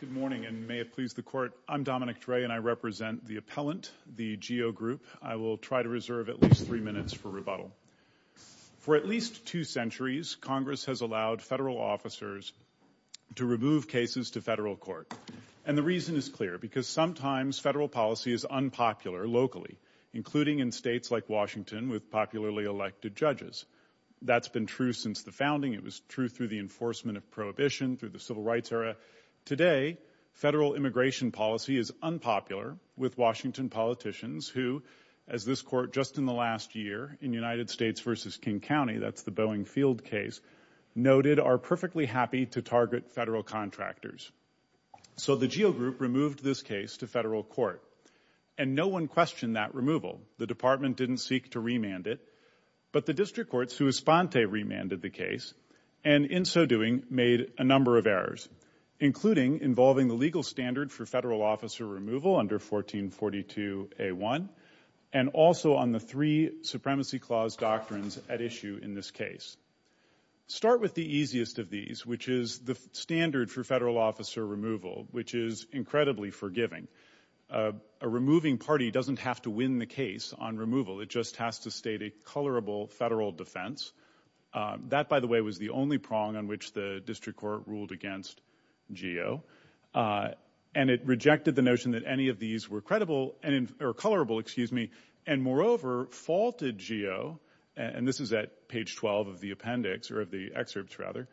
Good morning, and may it please the Court, I'm Dominic Dre, and I represent the appellant, the GEO Group. I will try to reserve at least three minutes for rebuttal. For at least two centuries, Congress has allowed federal officers to remove cases to federal court. And the with popularly elected judges. That's been true since the founding. It was true through the enforcement of prohibition, through the civil rights era. Today, federal immigration policy is unpopular with Washington politicians who, as this Court just in the last year in United States v. King County, that's the Boeing Field case, noted, are perfectly happy to target federal contractors. So the GEO Group removed this case to federal court. And no one questioned that removal. The Department didn't seek to remand it. But the district courts, who esponte remanded the case, and in so doing, made a number of errors, including involving the legal standard for federal officer removal under 1442A1, and also on the three supremacy clause doctrines at issue in this case. Start with the easiest of these, which is the standard for federal officer removal, which is incredibly forgiving. A removing party doesn't have to win the case on removal. It just has to state a colorable federal defense. That by the way, was the only prong on which the district court ruled against GEO. And it rejected the notion that any of these were credible, or colorable, excuse me. And moreover, faulted GEO, and this is at page 12 of the appendix, or of the excerpts rather,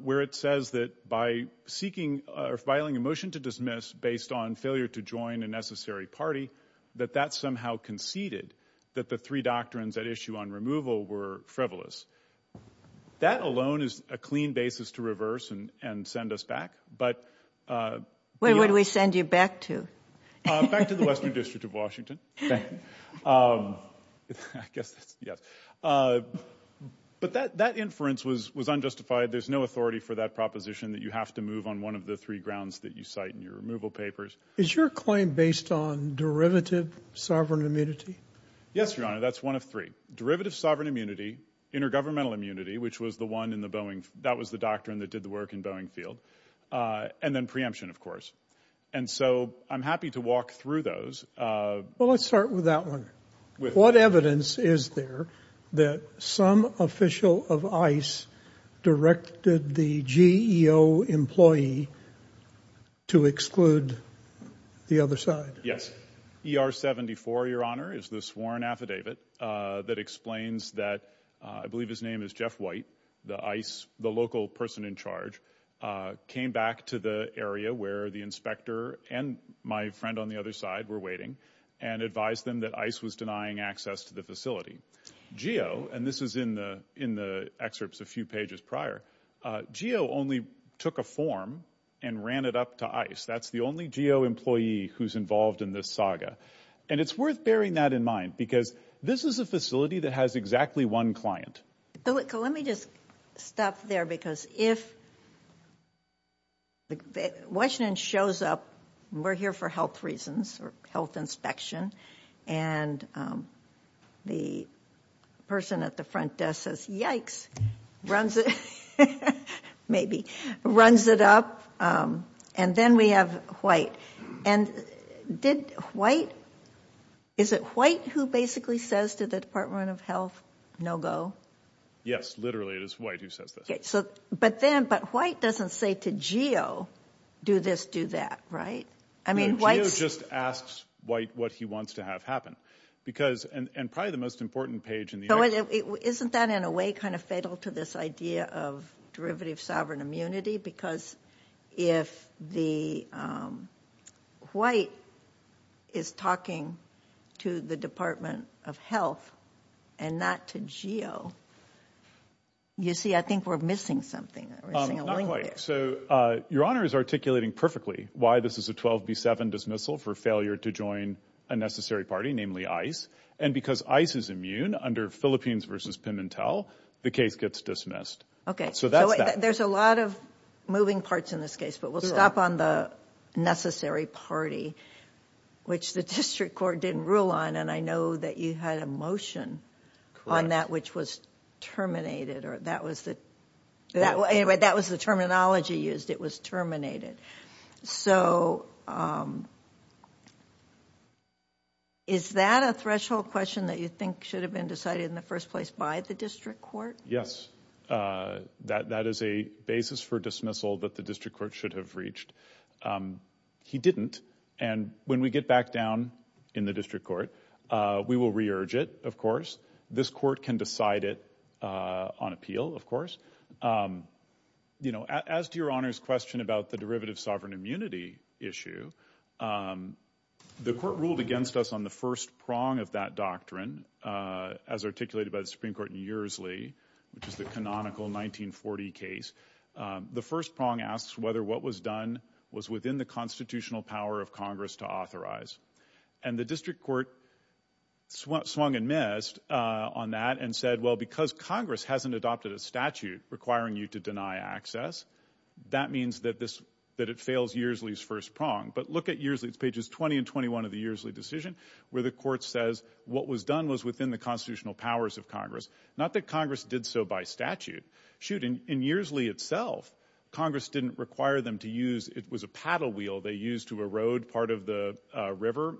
where it says that by seeking, or filing a motion to dismiss based on failure to join a necessary party, that that somehow conceded that the three doctrines at issue on removal were frivolous. That alone is a clean basis to reverse and send us back, but. What would we send you back to? Back to the Western District of Washington. I guess that's, yes. But that inference was unjustified. There's no authority for that proposition that you have to move on one of the three grounds that you cite in your removal papers. Is your claim based on derivative sovereign immunity? Yes, your honor. That's one of three. Derivative sovereign immunity, intergovernmental immunity, which was the one in the Boeing, that was the doctrine that did the work in Boeing Field. And then preemption, of course. And so I'm happy to walk through those. Well, let's start with that one. What evidence is there that some official of ICE directed the GEO employee to exclude the other side? Yes. ER 74, your honor, is the sworn affidavit that explains that, I believe his name is Jeff White, the ICE, the local person in charge, came back to the area where the inspector and my friend on the other side were waiting and advised them that ICE was denying access to the facility. GEO, and this is in the excerpts a few pages prior, GEO only took a form and ran it up to ICE. That's the only GEO employee who's involved in this saga. And it's worth bearing that in mind, because this is a facility that has exactly one client. Bill, let me just stop there, because if Washington shows up, we're here for health reasons or health inspection, and the person at the front desk says, yikes, runs it, maybe, runs it up. And then we have White. And did White, is it White who basically says to the Department of Health, no go? Yes, literally, it is White who says this. But then, but White doesn't say to GEO, do this, do that, right? I mean, White's... He just asks White what he wants to have happen. Because, and probably the most important page in the... So isn't that, in a way, kind of fatal to this idea of derivative sovereign immunity? Because if the White is talking to the Department of Health and not to GEO, you see, I think we're missing something. Not quite. So your Honor is articulating perfectly why this is a 12B7 dismissal. For failure to join a necessary party, namely ICE. And because ICE is immune, under Philippines versus Pimentel, the case gets dismissed. Okay. So that's that. There's a lot of moving parts in this case, but we'll stop on the necessary party, which the district court didn't rule on. And I know that you had a motion on that, which was terminated, or that was the... Anyway, that was the terminology used. It was terminated. So is that a threshold question that you think should have been decided in the first place by the district court? Yes. That is a basis for dismissal that the district court should have reached. He didn't. And when we get back down in the district court, we will re-urge it, of course. This court can decide it on appeal, of course. As to your Honor's question about the derivative sovereign immunity issue, the court ruled against us on the first prong of that doctrine, as articulated by the Supreme Court in Uresley, which is the canonical 1940 case. The first prong asks whether what was done was within the constitutional power of Congress to authorize. And the district court swung and missed on that and said, well, because Congress hasn't adopted a statute requiring you to deny access, that means that it fails Uresley's first prong. But look at Uresley. It's pages 20 and 21 of the Uresley decision, where the court says what was done was within the constitutional powers of Congress. Not that Congress did so by statute. Shoot, in Uresley itself, Congress didn't require them to use... It was a paddle wheel they used to erode part of the river.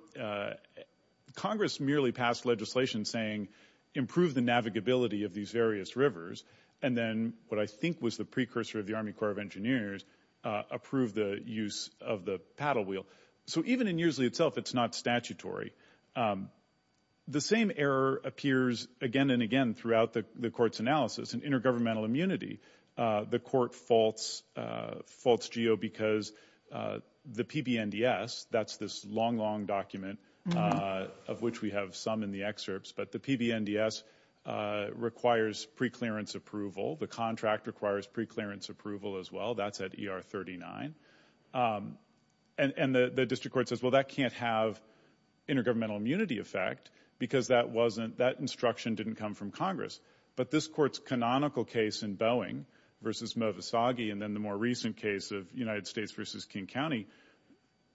Congress merely passed legislation saying improve the navigability of these various rivers, and then what I think was the precursor of the Army Corps of Engineers approved the use of the paddle wheel. So even in Uresley itself, it's not statutory. The same error appears again and again throughout the court's The PBNDS, that's this long, long document of which we have some in the excerpts, but the PBNDS requires preclearance approval. The contract requires preclearance approval as well. That's at ER 39. And the district court says, well, that can't have intergovernmental immunity effect because that instruction didn't come from Congress. But this court's canonical case in Boeing versus Movisagi, and then the more recent case of United States versus King County,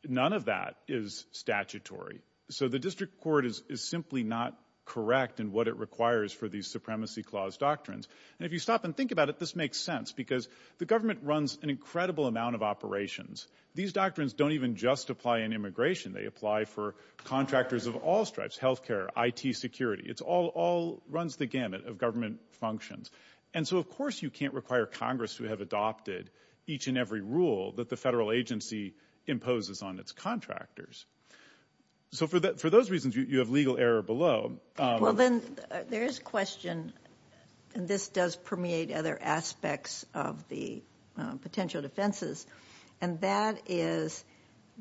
none of that is statutory. So the district court is simply not correct in what it requires for these supremacy clause doctrines. And if you stop and think about it, this makes sense because the government runs an incredible amount of operations. These doctrines don't even just apply in immigration. They apply for contractors of all stripes, health care, IT security. It all runs the gamut of government functions. And so, of course, you can't require Congress to have adopted each and every rule that the federal agency imposes on its contractors. So for those reasons, you have legal error below. Well, then there is a question, and this does permeate other aspects of the potential defenses, and that is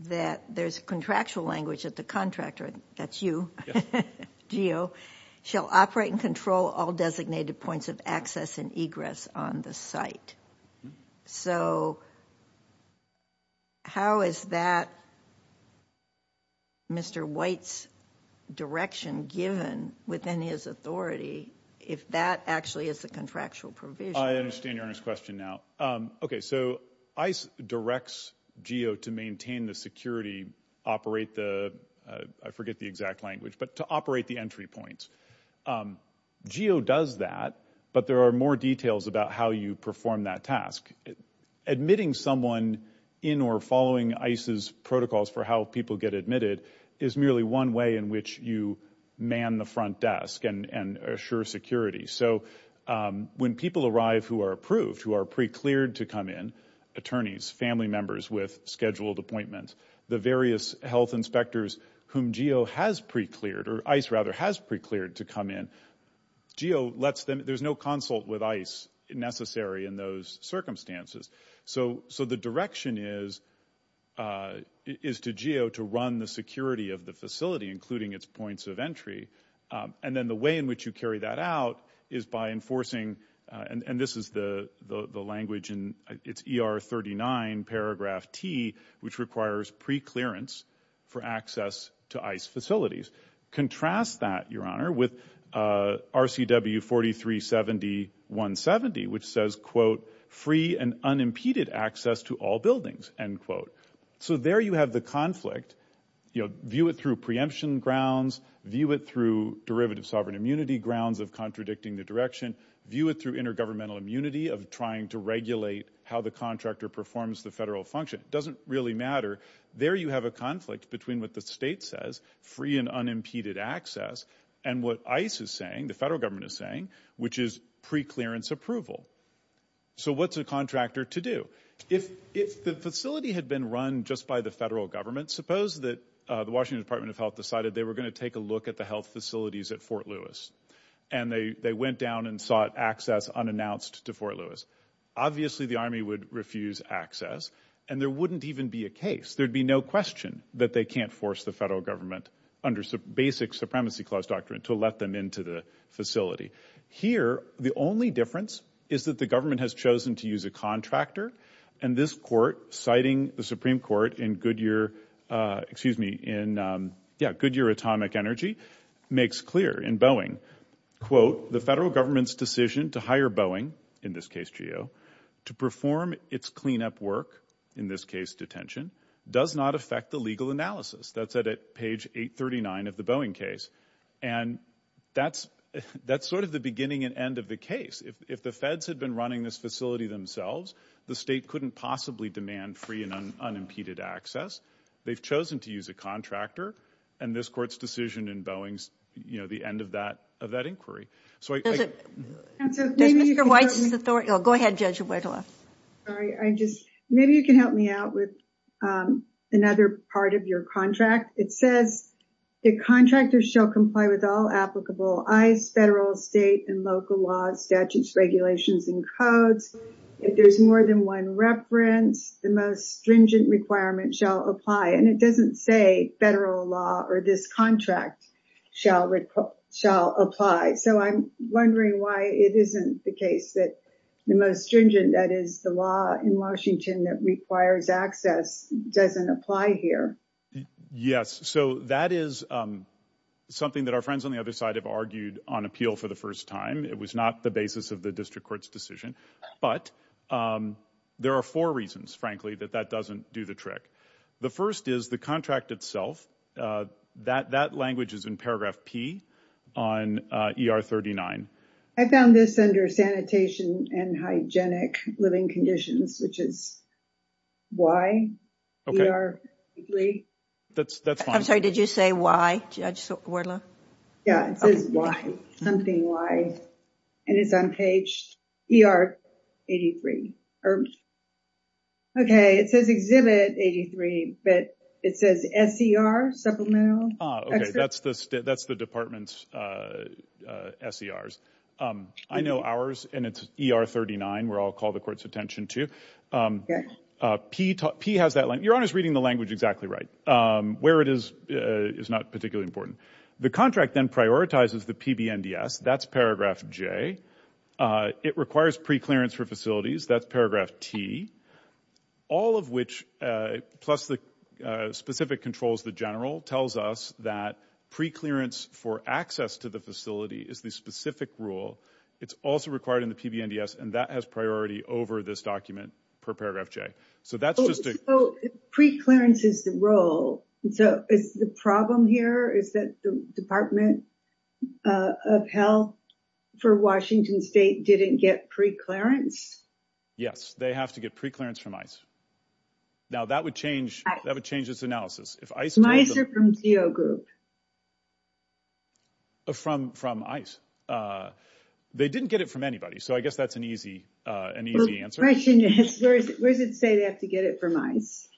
that there's contractual language that the contractor, that's you, GEO, shall operate and control all designated points of access and egress on the site. So how is that Mr. White's direction given within his authority if that actually is the contractual provision? I understand Your Honor's question now. Okay, so ICE directs GEO to maintain the security, operate the, I forget the exact language, but to operate the entry points. GEO does that, but there are more details about how you perform that task. Admitting someone in or following ICE's protocols for how people get admitted is merely one way in which you man the front desk and assure security. So when people arrive who are approved, who are pre-cleared to come in, attorneys, family members with scheduled appointments, the various health inspectors whom GEO has pre-cleared, or ICE rather has pre-cleared to come in, GEO lets them, there's no consult with ICE necessary in those circumstances. So the direction is to GEO to run the security of the facility, including its points of entry. And then the way in which you carry that out is by enforcing, and this is the language, it's ER 39 paragraph T, which requires pre-clearance for access to ICE facilities. Contrast that, Your Honor, with RCW 4370-170, which says, quote, free and unimpeded access to all buildings. And quote. So there you have the conflict, you know, view it through preemption grounds, view it through derivative sovereign immunity grounds of contradicting the direction, view it through intergovernmental immunity of trying to regulate how the contractor performs the federal function. Doesn't really matter. There you have a conflict between what the state says, free and unimpeded access, and what ICE is saying, the federal government is saying, which is pre-clearance approval. So what's a contractor to do? If the facility had been run just by the federal government, suppose that the Washington Department of Health decided they were going to take a look at the health facilities at Fort Lewis, and they went down and sought access unannounced to Fort Lewis. Obviously the Army would refuse access, and there wouldn't even be a case. There'd be no question that they can't force the federal Here, the only difference is that the government has chosen to use a contractor, and this court, citing the Supreme Court in Goodyear, excuse me, in, yeah, Goodyear Atomic Energy, makes clear in Boeing, quote, the federal government's decision to hire Boeing, in this case, GEO, to perform its cleanup work, in this case, detention, does not affect the legal analysis. That's at page 839 of the Boeing case. And that's, that's sort of the beginning and end of the case. If, if the feds had been running this facility themselves, the state couldn't possibly demand free and unimpeded access. They've chosen to use a contractor, and this court's decision in Boeing's, you know, the end of that, of that inquiry. So I- Does it, does Mr. Weitz's authority, oh, go ahead, Judge Wittler. Sorry, I just, maybe you can help me out with another part of your contract. It says, the contractor shall comply with all applicable ICE, federal, state, and local laws, statutes, regulations, and codes. If there's more than one reference, the most stringent requirement shall apply. And it doesn't say federal law or this contract shall, shall apply. So I'm wondering why it isn't the case that the most stringent, that is the law in Washington that requires access, doesn't apply here. Yes. So that is something that our friends on the other side have argued on appeal for the first time. It was not the basis of the district court's decision. But there are four reasons, frankly, that that doesn't do the trick. The first is the contract itself. That, that language is in paragraph P on ER 39. I found this under sanitation and hygienic living conditions, which is why? Okay. That's, that's fine. I'm sorry, did you say why, Judge Wittler? Yeah, it says why, something why. And it's on page ER 83. Okay. It says exhibit 83, but it says SCR supplemental. Okay. That's the, that's the department's SCRs. I know ours, and it's ER 39, where I'll call the court's attention to. Okay. P, P has that line. Your Honor's reading the language exactly right. Where it is, is not particularly important. The contract then prioritizes the PBNDS. That's paragraph J. It requires pre-clearance for facilities. That's paragraph T. All of which, plus the specific controls the general, tells us that pre-clearance for access to the facility is the specific rule. It's also required in the PBNDS, and that has priority over this document, per paragraph J. So that's just a- So pre-clearance is the role. So is the problem here is that the Department of Health for Washington State didn't get pre-clearance? Yes, they have to get pre-clearance from ICE. Now that would change, that would change its analysis. If ICE- ICE or from CO group? From, from ICE. They didn't get it from anybody, so I guess that's an easy, an easy answer. The question is, where does it say they have to get it from ICE?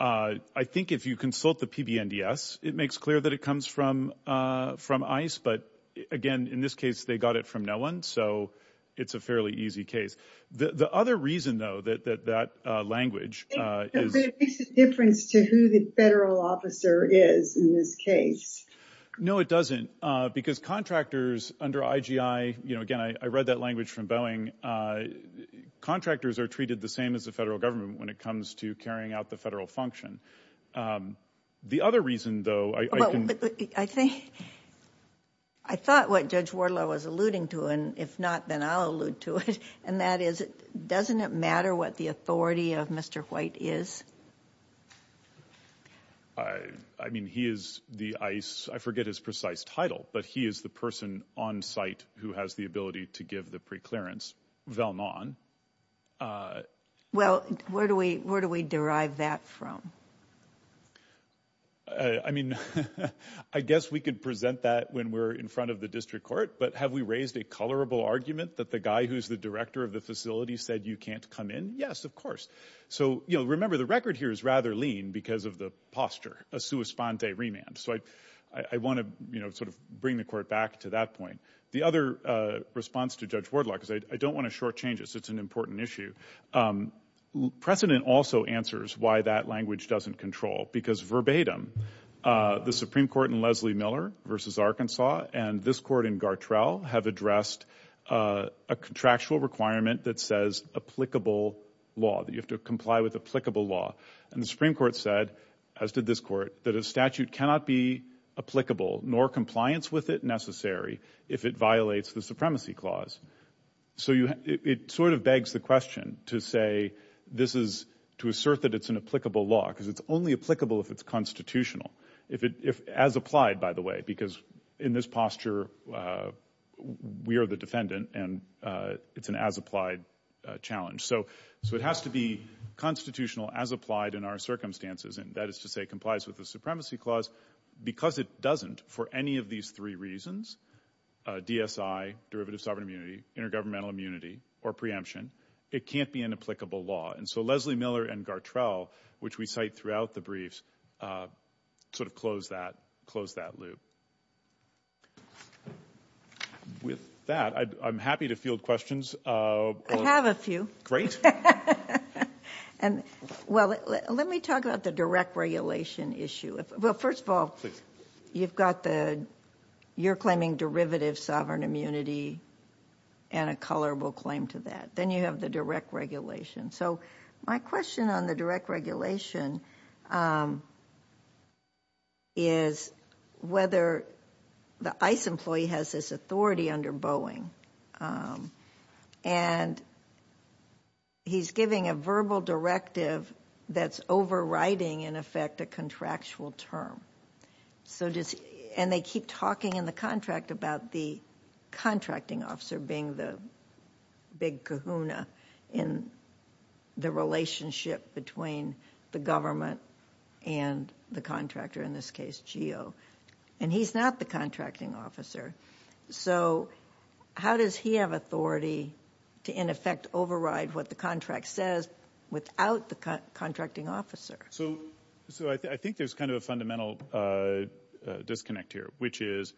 I think if you consult the PBNDS, it makes clear that it comes from, from ICE. But again, in this case, they got it from no one, so it's a fairly easy case. The other reason, though, that that language is- It makes a difference to who the federal officer is in this case. No, it doesn't. Because contractors under IGI, you know, again, I read that language from Boeing. Contractors are treated the same as the federal government when it comes to carrying out the I thought what Judge Wardlow was alluding to, and if not, then I'll allude to it, and that is, doesn't it matter what the authority of Mr. White is? I mean, he is the ICE- I forget his precise title, but he is the person on site who has the ability to give the pre-clearance, Valmon. Well, where do we, where do we derive that from? I mean, I guess we could present that when we're in front of the district court, but have we raised a colorable argument that the guy who's the director of the facility said you can't come in? Yes, of course. So, you know, remember, the record here is rather lean because of the posture, a sua sponte remand. So I, I want to, you know, sort of bring the court back to that point. The other response to Judge Wardlow, because I don't want to short change it, so it's an important issue. Precedent also answers why that language doesn't control, because verbatim, the Supreme Court in Leslie Miller versus Arkansas and this court in Gartrell have addressed a contractual requirement that says applicable law, that you have to comply with applicable law. And the Supreme Court said, as did this court, that a statute cannot be applicable nor compliance with it necessary if it violates the supremacy clause. So you, it sort of begs the question to say this is to assert that it's an applicable law, because it's only applicable if it's constitutional. If it, if, as applied, by the way, because in this posture, we are the defendant and it's an as applied challenge. So, so it has to be constitutional as applied in our circumstances, and that is to say complies with the supremacy clause. Because it doesn't, for any of these three reasons, DSI, derivative sovereign immunity, intergovernmental immunity, or preemption, it can't be an applicable law. And so Leslie Miller and Gartrell, which we cite throughout the briefs, sort of close that, close that loop. With that, I'm happy to field questions. I have a few. Great. And well, let me talk about the direct regulation issue. Well, first of all, you've got the, you're claiming derivative sovereign immunity and a colorable claim to that. Then you have the direct regulation. So my question on the direct regulation is whether the ICE employee has this authority under Boeing. And he's giving a verbal directive that's overriding, in effect, a contractual term. So just, and they keep talking in the contract about the contracting officer being the big kahuna in the relationship between the government and the contractor, in this case, GEO. And he's not the contracting officer. So how does he have authority to, in effect, override what the contract says without the contracting officer? So, so I think there's kind of a fundamental disconnect here, which is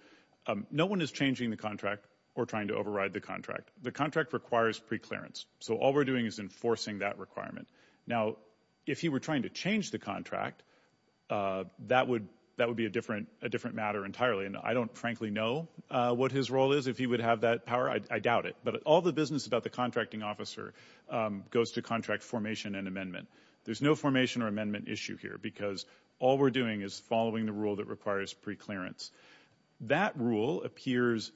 no one is changing the contract or trying to override the contract. The contract requires preclearance. So all we're doing is enforcing that requirement. Now, if he were trying to change the contract, that would, that would be a different, a different matter entirely. And I don't frankly know what his role is, if he would have that power. I doubt it. But all the business about the contracting officer goes to contract formation and amendment. There's no formation or amendment issue here because all we're doing is following the rule that requires preclearance. That rule appears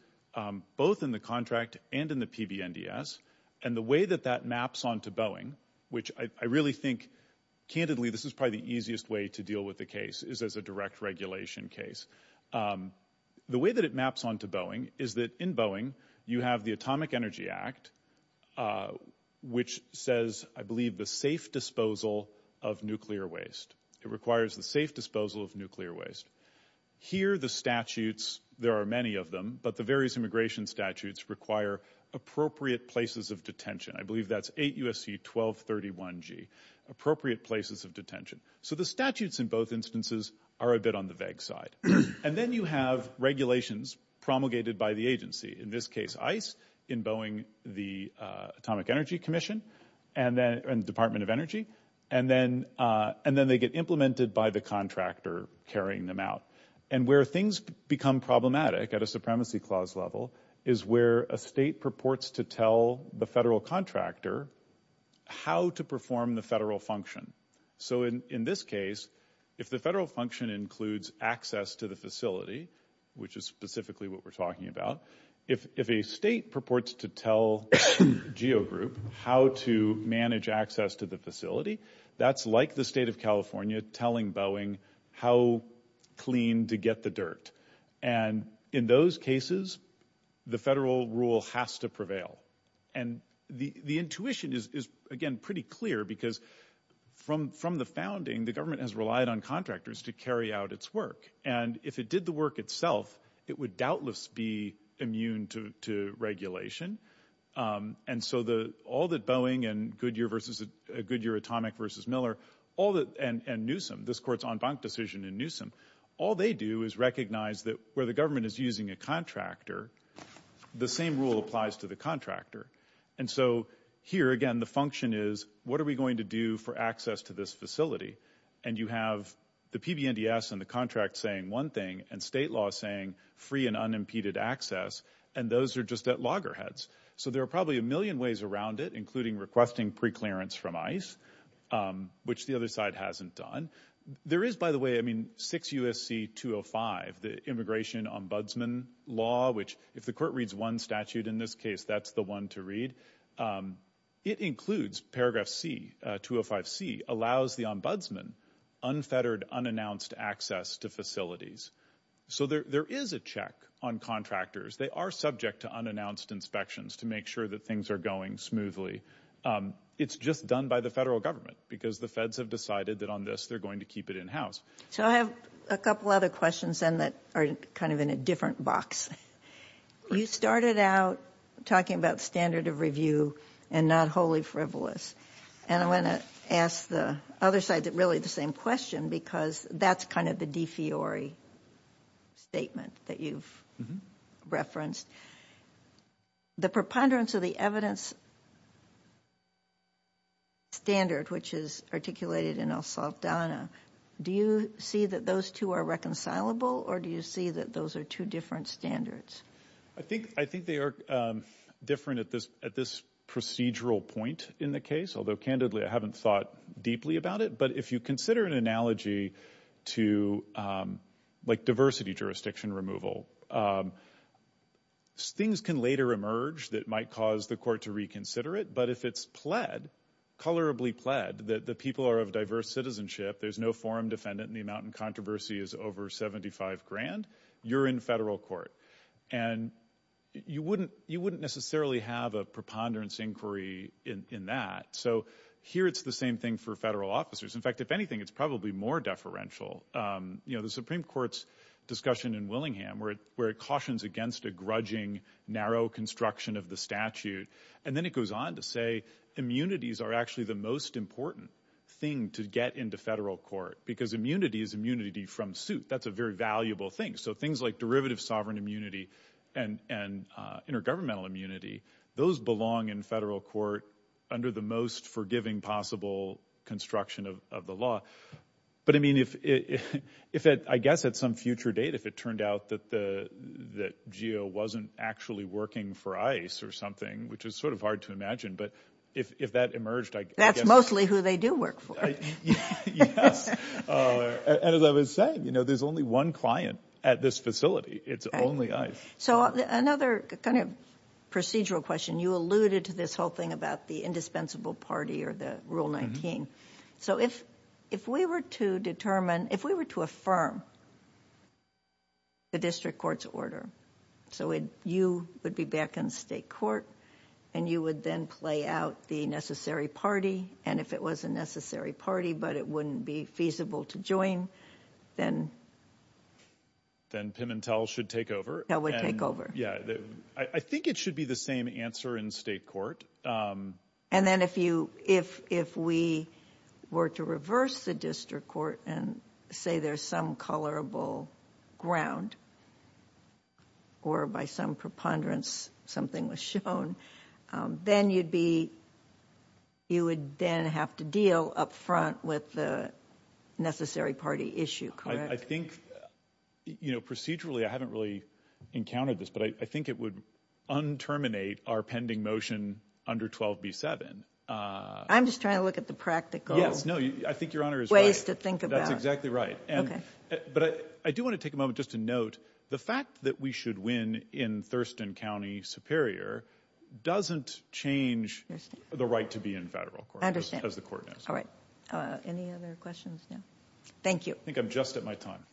both in the contract and in the PBNDS. And the way that that maps onto Boeing, which I really think, candidly, this is probably the easiest way to deal with the case, is as a direct regulation case. The way that it maps onto Boeing is that in Boeing, you have the Atomic Energy Act, which says, I believe, the safe disposal of nuclear waste. It requires the safe disposal of nuclear waste. Here, the statutes, there are many of them, but the various immigration statutes require appropriate places of detention. I believe that's 8 U.S.C. 1231G, appropriate places of detention. So the statutes in both instances are a bit on the vague side. And then you have regulations promulgated by the agency, in this case, ICE, in Boeing, the Atomic Energy Commission and the Department of Energy. And then they get implemented by the contractor carrying them out. And where things become problematic at a supremacy clause level is where a state purports to tell the federal contractor how to perform the federal function. So in this case, if the federal function includes access to the facility, which is specifically what we're talking about, if a state purports to tell GeoGroup how to manage access to the facility, that's like the state of California telling Boeing how clean to get the dirt. And in those cases, the federal rule has to prevail. And the intuition is, again, pretty clear because from the founding, the government has relied on contractors to carry out its work. And if it did the work itself, it would doubtless be immune to regulation. And so all that Boeing and Goodyear versus, Goodyear Atomic versus Miller, all that, and Newsom, this court's en banc decision in Newsom, all they do is recognize that where the government is using a contractor, the same rule applies to the contractor. And so here, again, the function is what are we going to do for access to this facility? And you have the PBNDS and the contract saying one thing, and state law saying free and unimpeded access, and those are just at loggerheads. So there are probably a million ways around it, including requesting preclearance from ICE, which the other side hasn't done. There is, by the way, I mean, 6 U.S.C. 205, the immigration ombudsman law, which if the court the ombudsman, unfettered, unannounced access to facilities. So there is a check on contractors. They are subject to unannounced inspections to make sure that things are going smoothly. It's just done by the federal government, because the feds have decided that on this, they're going to keep it in-house. So I have a couple other questions, and that are kind of in a different box. You started out talking about standard of review and not wholly frivolous. And I want to ask the other side really the same question, because that's kind of the defiori statement that you've referenced. The preponderance of the evidence standard, which is articulated in El Saldana, do you see that those two are reconcilable, or do you see that those are two different standards? I think they are different at this procedural point in the case. Although, candidly, I haven't thought deeply about it. But if you consider an analogy to, like, diversity jurisdiction removal, things can later emerge that might cause the court to reconsider it. But if it's pled, colorably pled, that the people are of diverse citizenship, there's no forum defendant, and the amount in controversy is over 75 grand, you're in federal court. And you wouldn't necessarily have a preponderance inquiry in that. So here, it's the same thing for federal officers. In fact, if anything, it's probably more deferential. The Supreme Court's discussion in Willingham, where it cautions against a grudging, narrow construction of the statute. And then it goes on to say, immunities are actually the most important thing to get into federal court, because immunity is from suit. That's a very valuable thing. So things like derivative sovereign immunity, and intergovernmental immunity, those belong in federal court, under the most forgiving possible construction of the law. But I mean, if it, I guess, at some future date, if it turned out that GEO wasn't actually working for ICE or something, which is sort of hard to imagine, but if that emerged, I guess... That's mostly who they do work for. Yes. And as I was saying, there's only one client at this facility. It's only ICE. So another kind of procedural question, you alluded to this whole thing about the indispensable party or the Rule 19. So if we were to determine, if we were to affirm the district court's order, so you would be back in state court, and you would then play out the necessary party. And if it was a necessary party, but it wouldn't be feasible to join, then... Then Pimentel should take over. Pimentel would take over. Yeah. I think it should be the same answer in state court. And then if we were to reverse the district court and say there's some colorable ground, or by some preponderance, something was shown, then you'd be... You would then have to deal up front with the necessary party issue, correct? I think, procedurally, I haven't really encountered this, but I think it would un-terminate our pending motion under 12B7. I'm just trying to look at the practical... Yes. No, I think Your Honor is right. ...ways to think about it. That's exactly right. Okay. But I do want to take a moment just to note, the fact that we should win in Thurston County Superior doesn't change the right to be in federal court... ...as the court knows. All right. Any other questions now? Thank you. I think I'm just at my time.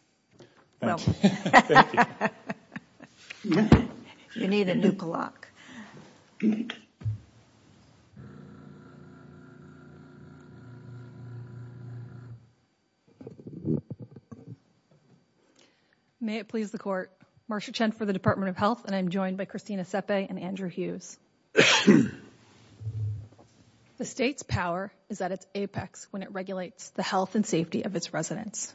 Well... Thank you. You need a new clock. May it please the court. Marcia Chen for the Department of Health, and I'm joined by Christina Sepe and Andrew Hughes. The state's power is at its apex when it regulates the health and safety of its residents.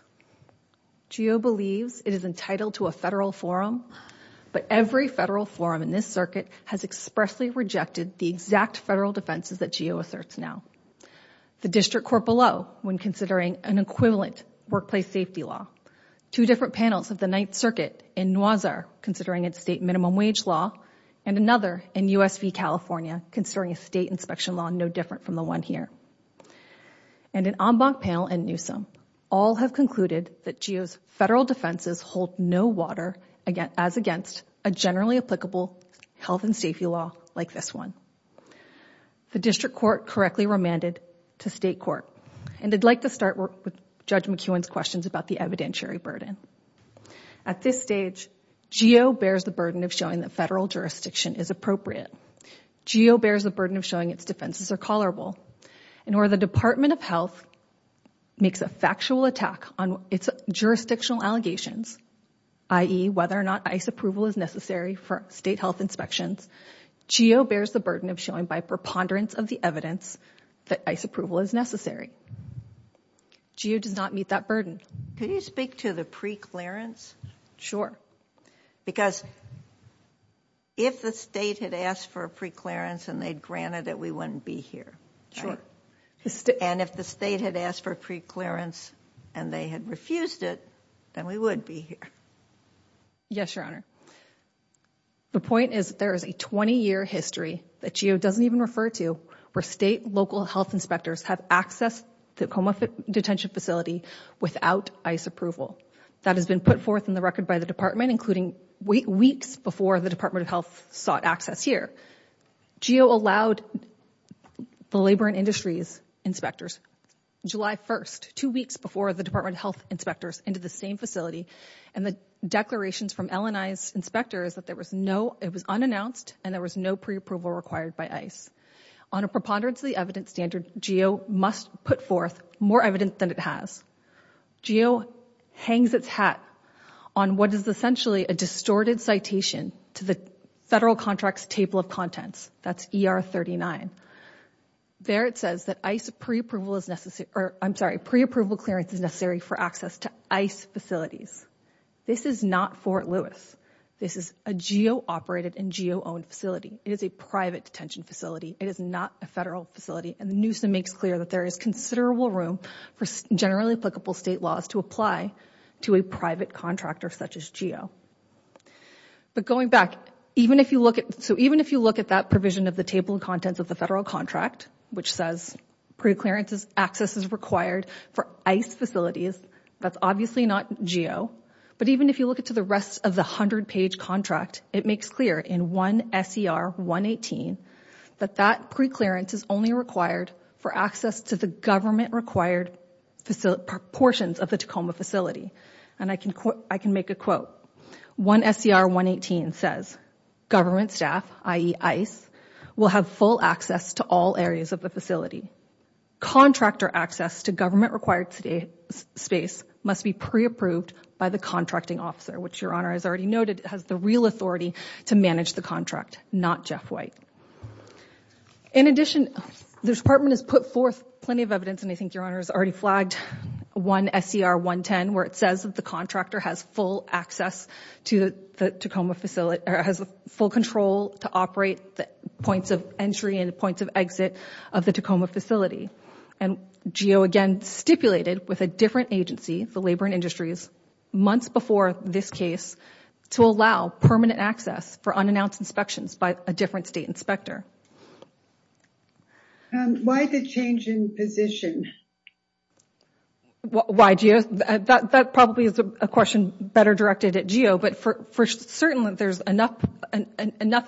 GEO believes it is entitled to a federal forum, but every federal forum in this circuit has expressly rejected the exact federal defenses that GEO asserts now. The district court below, when considering an equivalent workplace safety law, two different panels of the Ninth Circuit in Noisier, considering its state minimum wage law, and another in USV, California, considering a state inspection law no different from the one here. And an en banc panel in Newsome, all have concluded that GEO's federal defenses hold no water as against a generally applicable health and safety law like this one. The district court correctly remanded to state court. And I'd like to start with Judge McEwen's questions about the evidentiary burden. At this stage, GEO bears the burden of showing that federal jurisdiction is appropriate. GEO bears the burden of showing its defenses are tolerable. And where the Department of Health makes a factual attack on its jurisdictional allegations, i.e. whether or not ICE approval is necessary for state health inspections, GEO bears the burden of showing by preponderance of the evidence that ICE approval is necessary. GEO does not meet that burden. Can you speak to the preclearance? Because if the state had asked for a preclearance and they'd granted it, we wouldn't be here. And if the state had asked for a preclearance and they had refused it, then we would be here. Yes, Your Honor. The point is there is a 20-year history that GEO doesn't even refer to where state, local health inspectors have access to a coma detention facility without ICE approval. That has been put forth in the record by the department, including weeks before the Department of Health sought access here. GEO allowed the Labor and Industries inspectors, July 1st, two weeks before the Department of Health inspectors into the same facility. And the declarations from LNI's inspectors that there was no, it was unannounced and there was no pre-approval required by ICE. On a preponderance of the evidence standard, GEO must put forth more evidence than it has. GEO hangs its hat on what is essentially a distorted citation to the federal contracts table of contents. That's ER 39. There it says that ICE pre-approval is necessary, or I'm sorry, pre-approval clearance is necessary for access to ICE facilities. This is not Fort Lewis. This is a GEO-operated and GEO-owned facility. It is a private detention facility. It is not a federal facility. And the NUSA makes clear that there is considerable room for generally applicable state laws to apply to a private contractor such as GEO. But going back, even if you look at, so even if you look at that provision of the table of contents of the federal contract, which says pre-clearance access is required for ICE facilities, that's obviously not GEO. But even if you look at the rest of the 100-page contract, it makes clear in 1 S.E.R. 118 that that pre-clearance is only required for access to the government-required portions of the Tacoma facility. And I can make a quote. 1 S.E.R. 118 says government staff, i.e. ICE, will have full access to all areas of the facility. Contractor access to government-required space must be pre-approved by the contracting officer, which Your Honor has already noted has the real authority to manage the contract, not Jeff White. In addition, the Department has put forth plenty of evidence, and I think Your Honor has already flagged 1 S.E.R. 110, where it says that the contractor has full access to the Tacoma facility, or has full control to operate the points of entry and points of exit of the Tacoma facility. And GEO, again, stipulated with a different agency, the Labor and Industries, months before this case, to allow permanent access for unannounced inspections by a different state inspector. Why the change in position? Why, GEO? That probably is a question better directed at GEO. But for certain, there's enough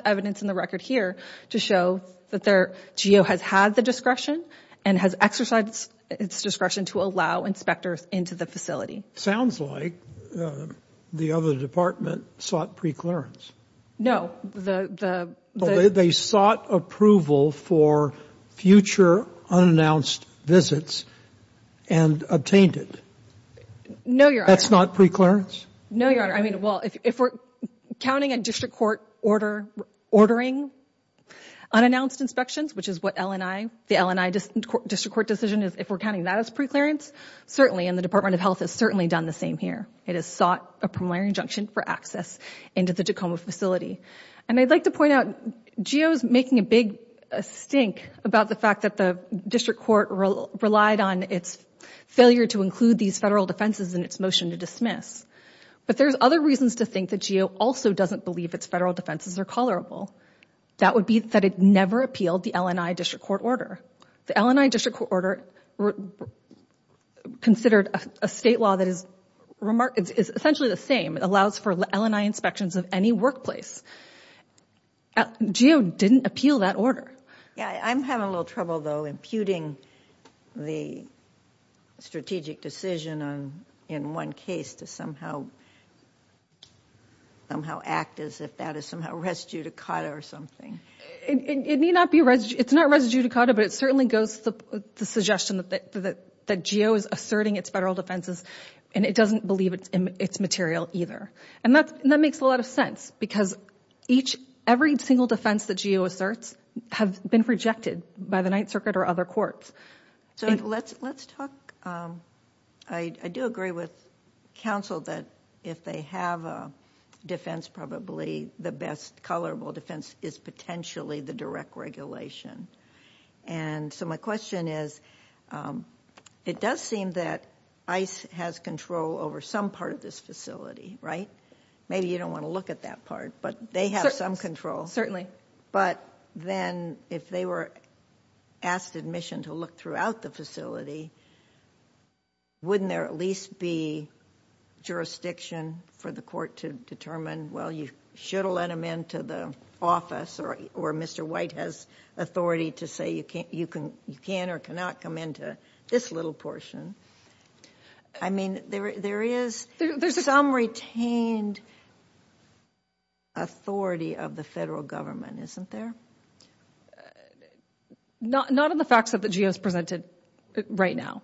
evidence in the record here to show that GEO has had the discretion and has exercised its discretion to allow inspectors into the facility. Sounds like the other department sought pre-clearance. No. They sought approval for future unannounced visits and obtained it. No, Your Honor. That's not pre-clearance? No, Your Honor. If we're counting a district court ordering unannounced inspections, which is what the LNI district court decision is, if we're counting that as pre-clearance, certainly, and the Department of Health has certainly done the same here. It has sought a preliminary injunction for access into the Tacoma facility. And I'd like to point out, GEO is making a big stink about the fact that the district court relied on its failure to include these federal defenses in its motion to dismiss. But there's other reasons to think that GEO also doesn't believe its federal defenses are tolerable. That would be that it never appealed the LNI district court order. The LNI district court order considered a state law that is essentially the same. It allows for LNI inspections of any workplace. GEO didn't appeal that order. Yeah, I'm having a little trouble, though, computing the strategic decision on, in one case, to somehow act as if that is somehow res judicata or something. It's not res judicata, but it certainly goes to the suggestion that GEO is asserting its federal defenses, and it doesn't believe it's material either. And that makes a lot of sense because every single defense that GEO asserts have been rejected by the Ninth Circuit or other courts. I do agree with counsel that if they have a defense, probably the best colorable defense is potentially the direct regulation. And so my question is, it does seem that ICE has control over some part of this facility, right? Maybe you don't want to look at that part, but they have some control. But then if they were asked admission to look throughout the facility, wouldn't there at least be jurisdiction for the court to determine, well, you should let them into the office, or Mr. White has authority to say you can or cannot come into this little portion. I mean, there is some retained authority of the federal government, isn't there? Not in the facts that the GEO has presented right now.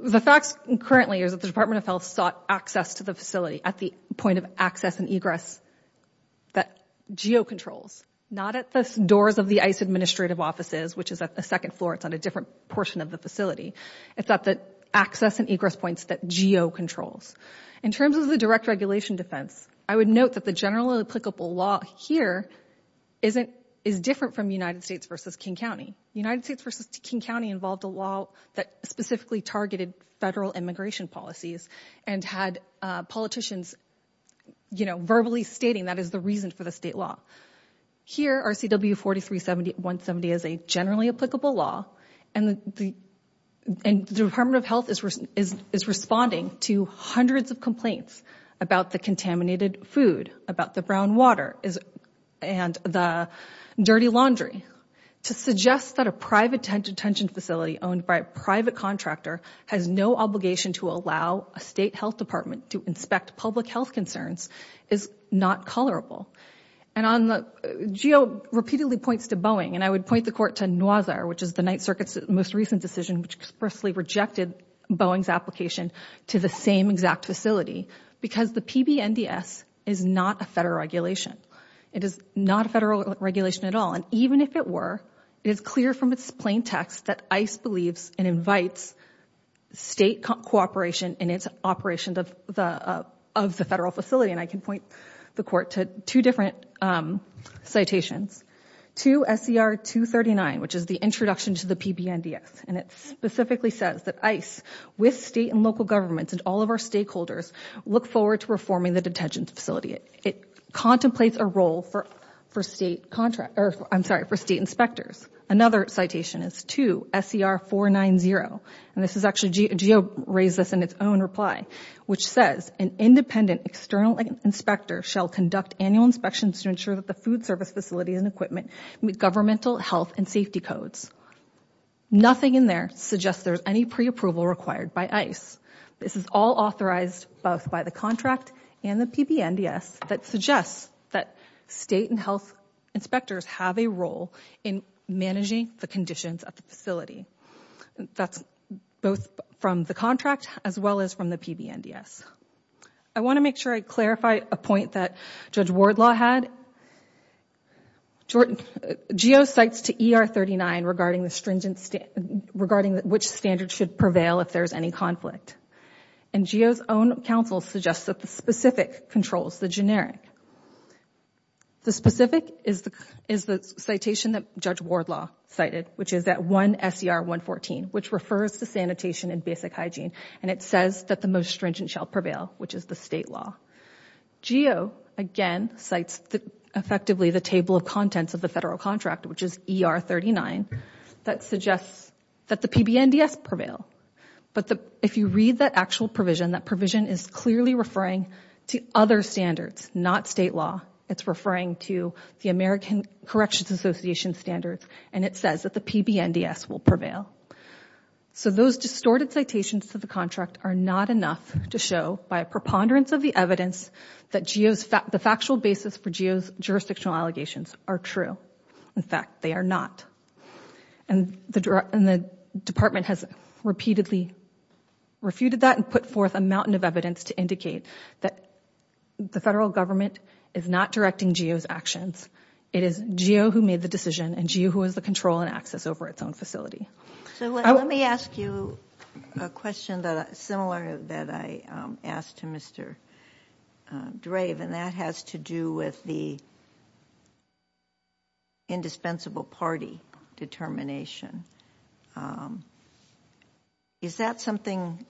The facts currently is that the Department of Health sought access to the facility at the point of access and egress that GEO controls, not at the doors of the ICE administrative offices, which is at the second floor. It's on a different portion of the facility. It's at the access and egress points that GEO controls. In terms of the direct regulation defense, I would note that the generally applicable law here is different from United States versus King County. United States versus King County involved a law that specifically targeted federal immigration policies and had politicians verbally stating that is the reason for the state law. Here, RCW 43-170 is a generally applicable law, and the Department of Health is responding to hundreds of complaints about the contaminated food, about the brown water, and the dirty laundry. To suggest that a private detention facility owned by a private contractor has no obligation to allow a state health department to inspect public health concerns is not colorable. And GEO repeatedly points to Boeing, and I would point the court to NOISAR, which is the Ninth Circuit's most recent decision, which expressly rejected Boeing's application to the same exact facility because the PBNDS is not a federal regulation. It is not a federal regulation at all. And even if it were, it is clear from its plain text that ICE believes and invites state cooperation in its operation of the federal facility. And I can point the court to two different citations. Two, SER 239, which is the introduction to the PBNDS, and it specifically says that ICE, with state and local governments and all of our stakeholders, look forward to reforming the detention facility. It contemplates a role for state inspectors. Another citation is two, SER 490, and this is actually GEO raised this in its own reply, which says an independent external inspector shall conduct annual inspections to ensure that the food service facility and equipment meet governmental health and safety codes. Nothing in there suggests there's any pre-approval required by ICE. This is all authorized both by the contract and the PBNDS that suggests that state and health inspectors have a role in managing the conditions of the facility. That's both from the contract as well as from the PBNDS. I want to make sure I clarify a point that Judge Wardlaw had. GEO cites to ER 39 regarding which standards should prevail if there's any conflict. And GEO's own counsel suggests that the specific controls, the generic. The specific is the citation that Judge Wardlaw cited, which is that one, SER 114, which refers to sanitation and basic hygiene, and it says that the most stringent shall prevail, which is the state law. GEO, again, cites effectively the table of contents of the federal contract, which is ER 39, that suggests that the PBNDS prevail. But if you read that actual provision, that provision is clearly referring to other standards, not state law. It's referring to the American Corrections Association standards, and it says that the PBNDS will prevail. So those distorted citations to the contract are not enough to show by a preponderance of the evidence that the factual basis for GEO's jurisdictional allegations are true. In fact, they are not. And the department has repeatedly refuted that and put forth a mountain of evidence to indicate that the federal government is not directing GEO's actions. It is GEO who made the decision, and GEO who has the control and access over its own facility. So let me ask you a question that is similar that I asked to Mr. Drave, and that has to do with the indispensable party determination. Is that something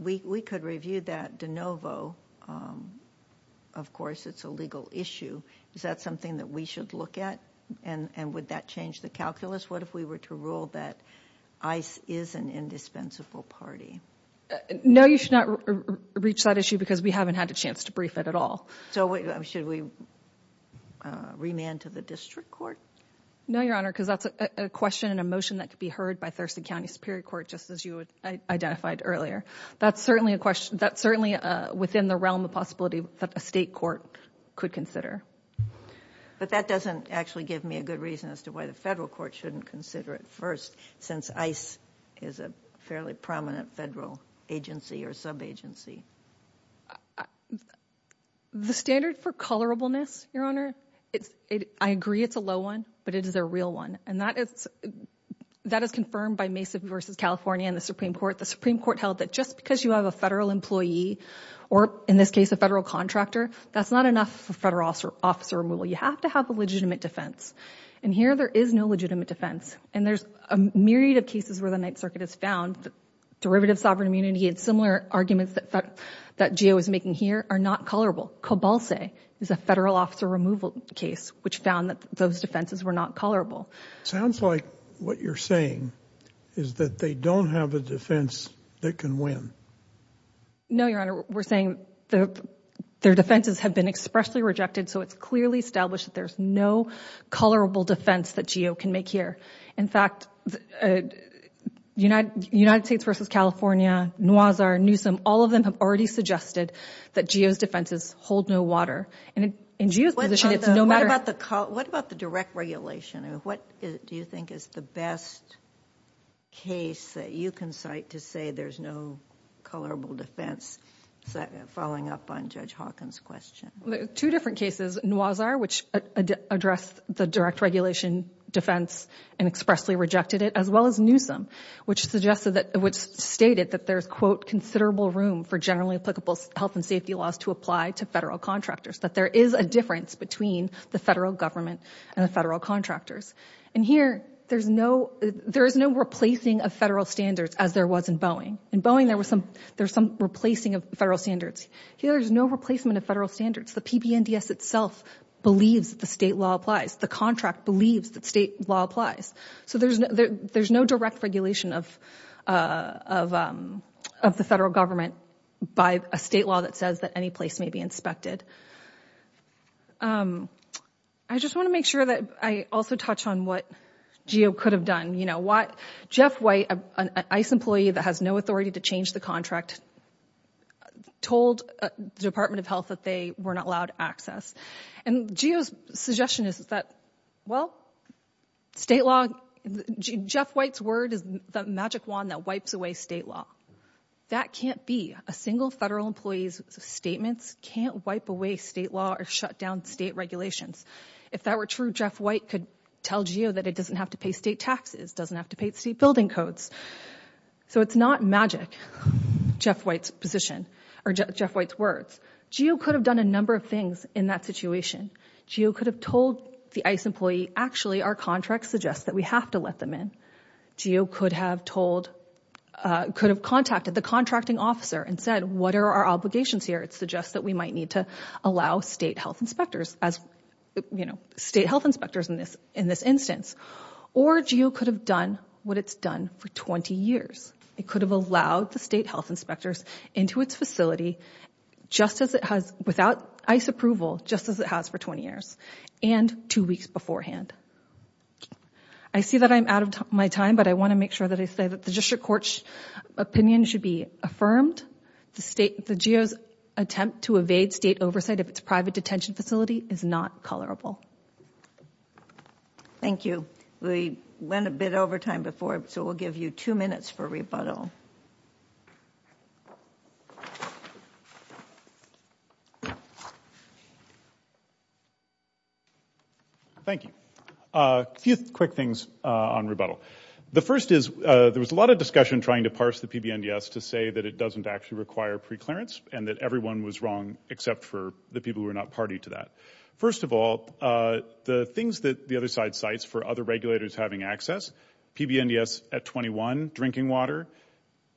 we could review that de novo? Of course, it's a legal issue. Is that something that we should look at? And would that change the calculus? What if we were to rule that ICE is an indispensable party? No, you should not reach that issue because we haven't had a chance to brief it at all. So should we remand to the district court? No, Your Honor, because that's a question and a motion that could be heard by Thurston County Superior Court, just as you identified earlier. That's certainly within the realm of possibility that a state court could consider. But that doesn't actually give me a good reason as to why the federal court shouldn't consider it first, since ICE is a fairly prominent federal agency or sub-agency. The standard for colorableness, Your Honor, I agree it's a low one, but it is a real one. And that is confirmed by Mesa v. California and the Supreme Court. The Supreme Court held that just because you have a federal employee, or in this case, a federal contractor, that's not enough for federal officer removal. You have to have a legitimate defense. And here there is no legitimate defense. And there's a myriad of cases where the Ninth Circuit has found that derivative sovereign immunity and similar arguments that GEO is making here are not colorable. Cobolse is a federal officer removal case, which found that those defenses were not colorable. Sounds like what you're saying is that they don't have a defense that can win. No, Your Honor, we're saying their defenses have been expressly rejected. So it's clearly established that there's no colorable defense that GEO can make here. In fact, United States v. California, Noisar, Newsom, all of them have already suggested that GEO's defenses hold no water. And in GEO's position, it's no matter— What about the direct regulation? What do you think is the best case that you can cite to say there's no colorable defense, following up on Judge Hawkins' question? Two different cases, Noisar, which addressed the direct regulation defense and expressly rejected it, as well as Newsom, which stated that there's, quote, considerable room for generally applicable health and safety laws to apply to federal contractors, that there is a difference between the federal government and the federal contractors. And here, there is no replacing of federal standards as there was in Boeing. In Boeing, there was some replacing of federal standards. Here, there's no replacement of federal standards. The PBNDS itself believes the state law applies. The contract believes that state law applies. So there's no direct regulation of the federal government by a state law that says that any place may be inspected. I just want to make sure that I also touch on what GEO could have done. You know, Jeff White, an ICE employee that has no authority to change the contract, told the Department of Health that they were not allowed access. And GEO's suggestion is that, well, state law, Jeff White's word is the magic wand that wipes away state law. That can't be. A single federal employee's statements can't wipe away state law or shut down state regulations. If that were true, Jeff White could tell GEO that it doesn't have to pay state taxes, doesn't have to pay state building codes. So it's not magic. Jeff White's position or Jeff White's words. GEO could have done a number of things in that situation. GEO could have told the ICE employee, actually, our contract suggests that we have to let them in. GEO could have told, could have contacted the contracting officer and said, what are our obligations here? It suggests that we might need to allow state health inspectors as, you know, state health inspectors in this instance. Or GEO could have done what it's done for 20 years. It could have allowed the state health inspectors into its facility just as it has, without ICE approval, just as it has for 20 years and two weeks beforehand. I see that I'm out of my time, but I want to make sure that I say that the district court's opinion should be affirmed. The state, the GEO's attempt to evade state oversight of its private detention facility is not colorable. Thank you. We went a bit over time before, so we'll give you two minutes for rebuttal. Thank you. A few quick things on rebuttal. The first is, there was a lot of discussion trying to parse the PBNDS to say that it doesn't actually require preclearance and that everyone was wrong, except for the people who are not party to that. First of all, the things that the other side cites for other regulators having access, PBNDS at 21, drinking water.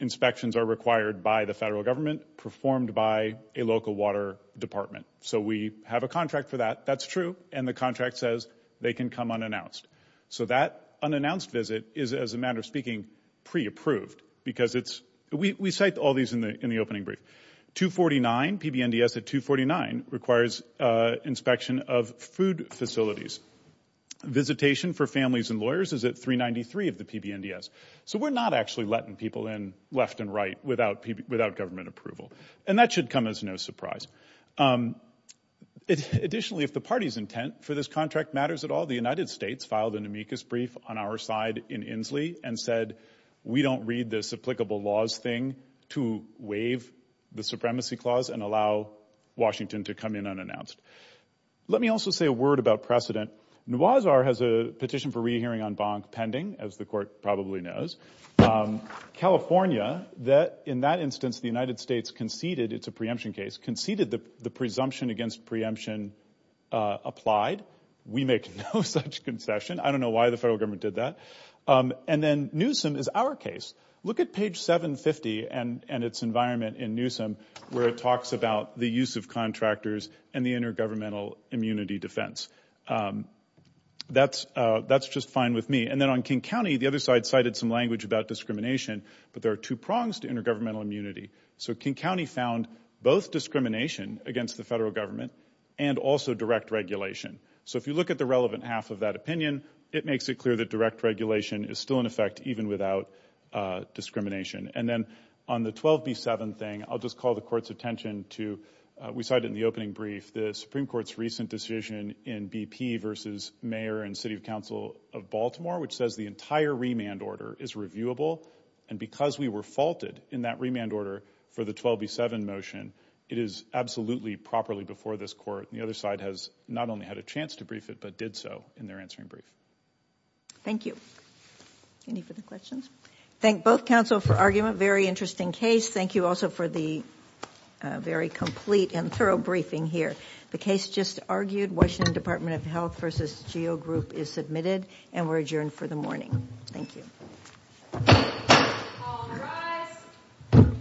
Inspections are required by the federal government, performed by a local water department. So we have a contract for that. That's true. And the contract says they can come unannounced. So that unannounced visit is, as a matter of speaking, pre-approved because it's, we cite all these in the opening brief. 249, PBNDS at 249 requires inspection of food facilities. Visitation for families and lawyers is at 393 of the PBNDS. So we're not actually letting people in left and right without government approval. And that should come as no surprise. Additionally, if the party's intent for this contract matters at all, the United States filed an amicus brief on our side in Inslee and said, we don't read this applicable laws thing to waive the supremacy clause and allow Washington to come in unannounced. Let me also say a word about precedent. Nuwazar has a petition for rehearing on Bonk pending, as the court probably knows. California, that in that instance, the United States conceded it's a preemption case, conceded the presumption against preemption applied. We make no such concession. I don't know why the federal government did that. And then Newsom is our case. Look at page 750 and its environment in Newsom, where it talks about the use of contractors and the intergovernmental immunity defense. That's just fine with me. And then on King County, the other side cited some language about discrimination, but there are two prongs to intergovernmental immunity. So King County found both discrimination against the federal government and also direct regulation. So if you look at the relevant half of that opinion, it makes it clear that direct regulation is still in effect even without discrimination. And then on the 12B7 thing, I'll just call the court's attention to, we cited in the opening brief, the Supreme Court's recent decision in BP versus mayor and city council of Baltimore, which says the entire remand order is reviewable. And because we were faulted in that remand order for the 12B7 motion, it is absolutely properly before this court. And the other side has not only had a chance to brief it, but did so in their answering brief. Thank you. Any further questions? Thank both counsel for argument. Very interesting case. Thank you also for the very complete and thorough briefing here. The case just argued. Washington Department of Health versus GEO Group is submitted and we're adjourned for the morning. Thank you.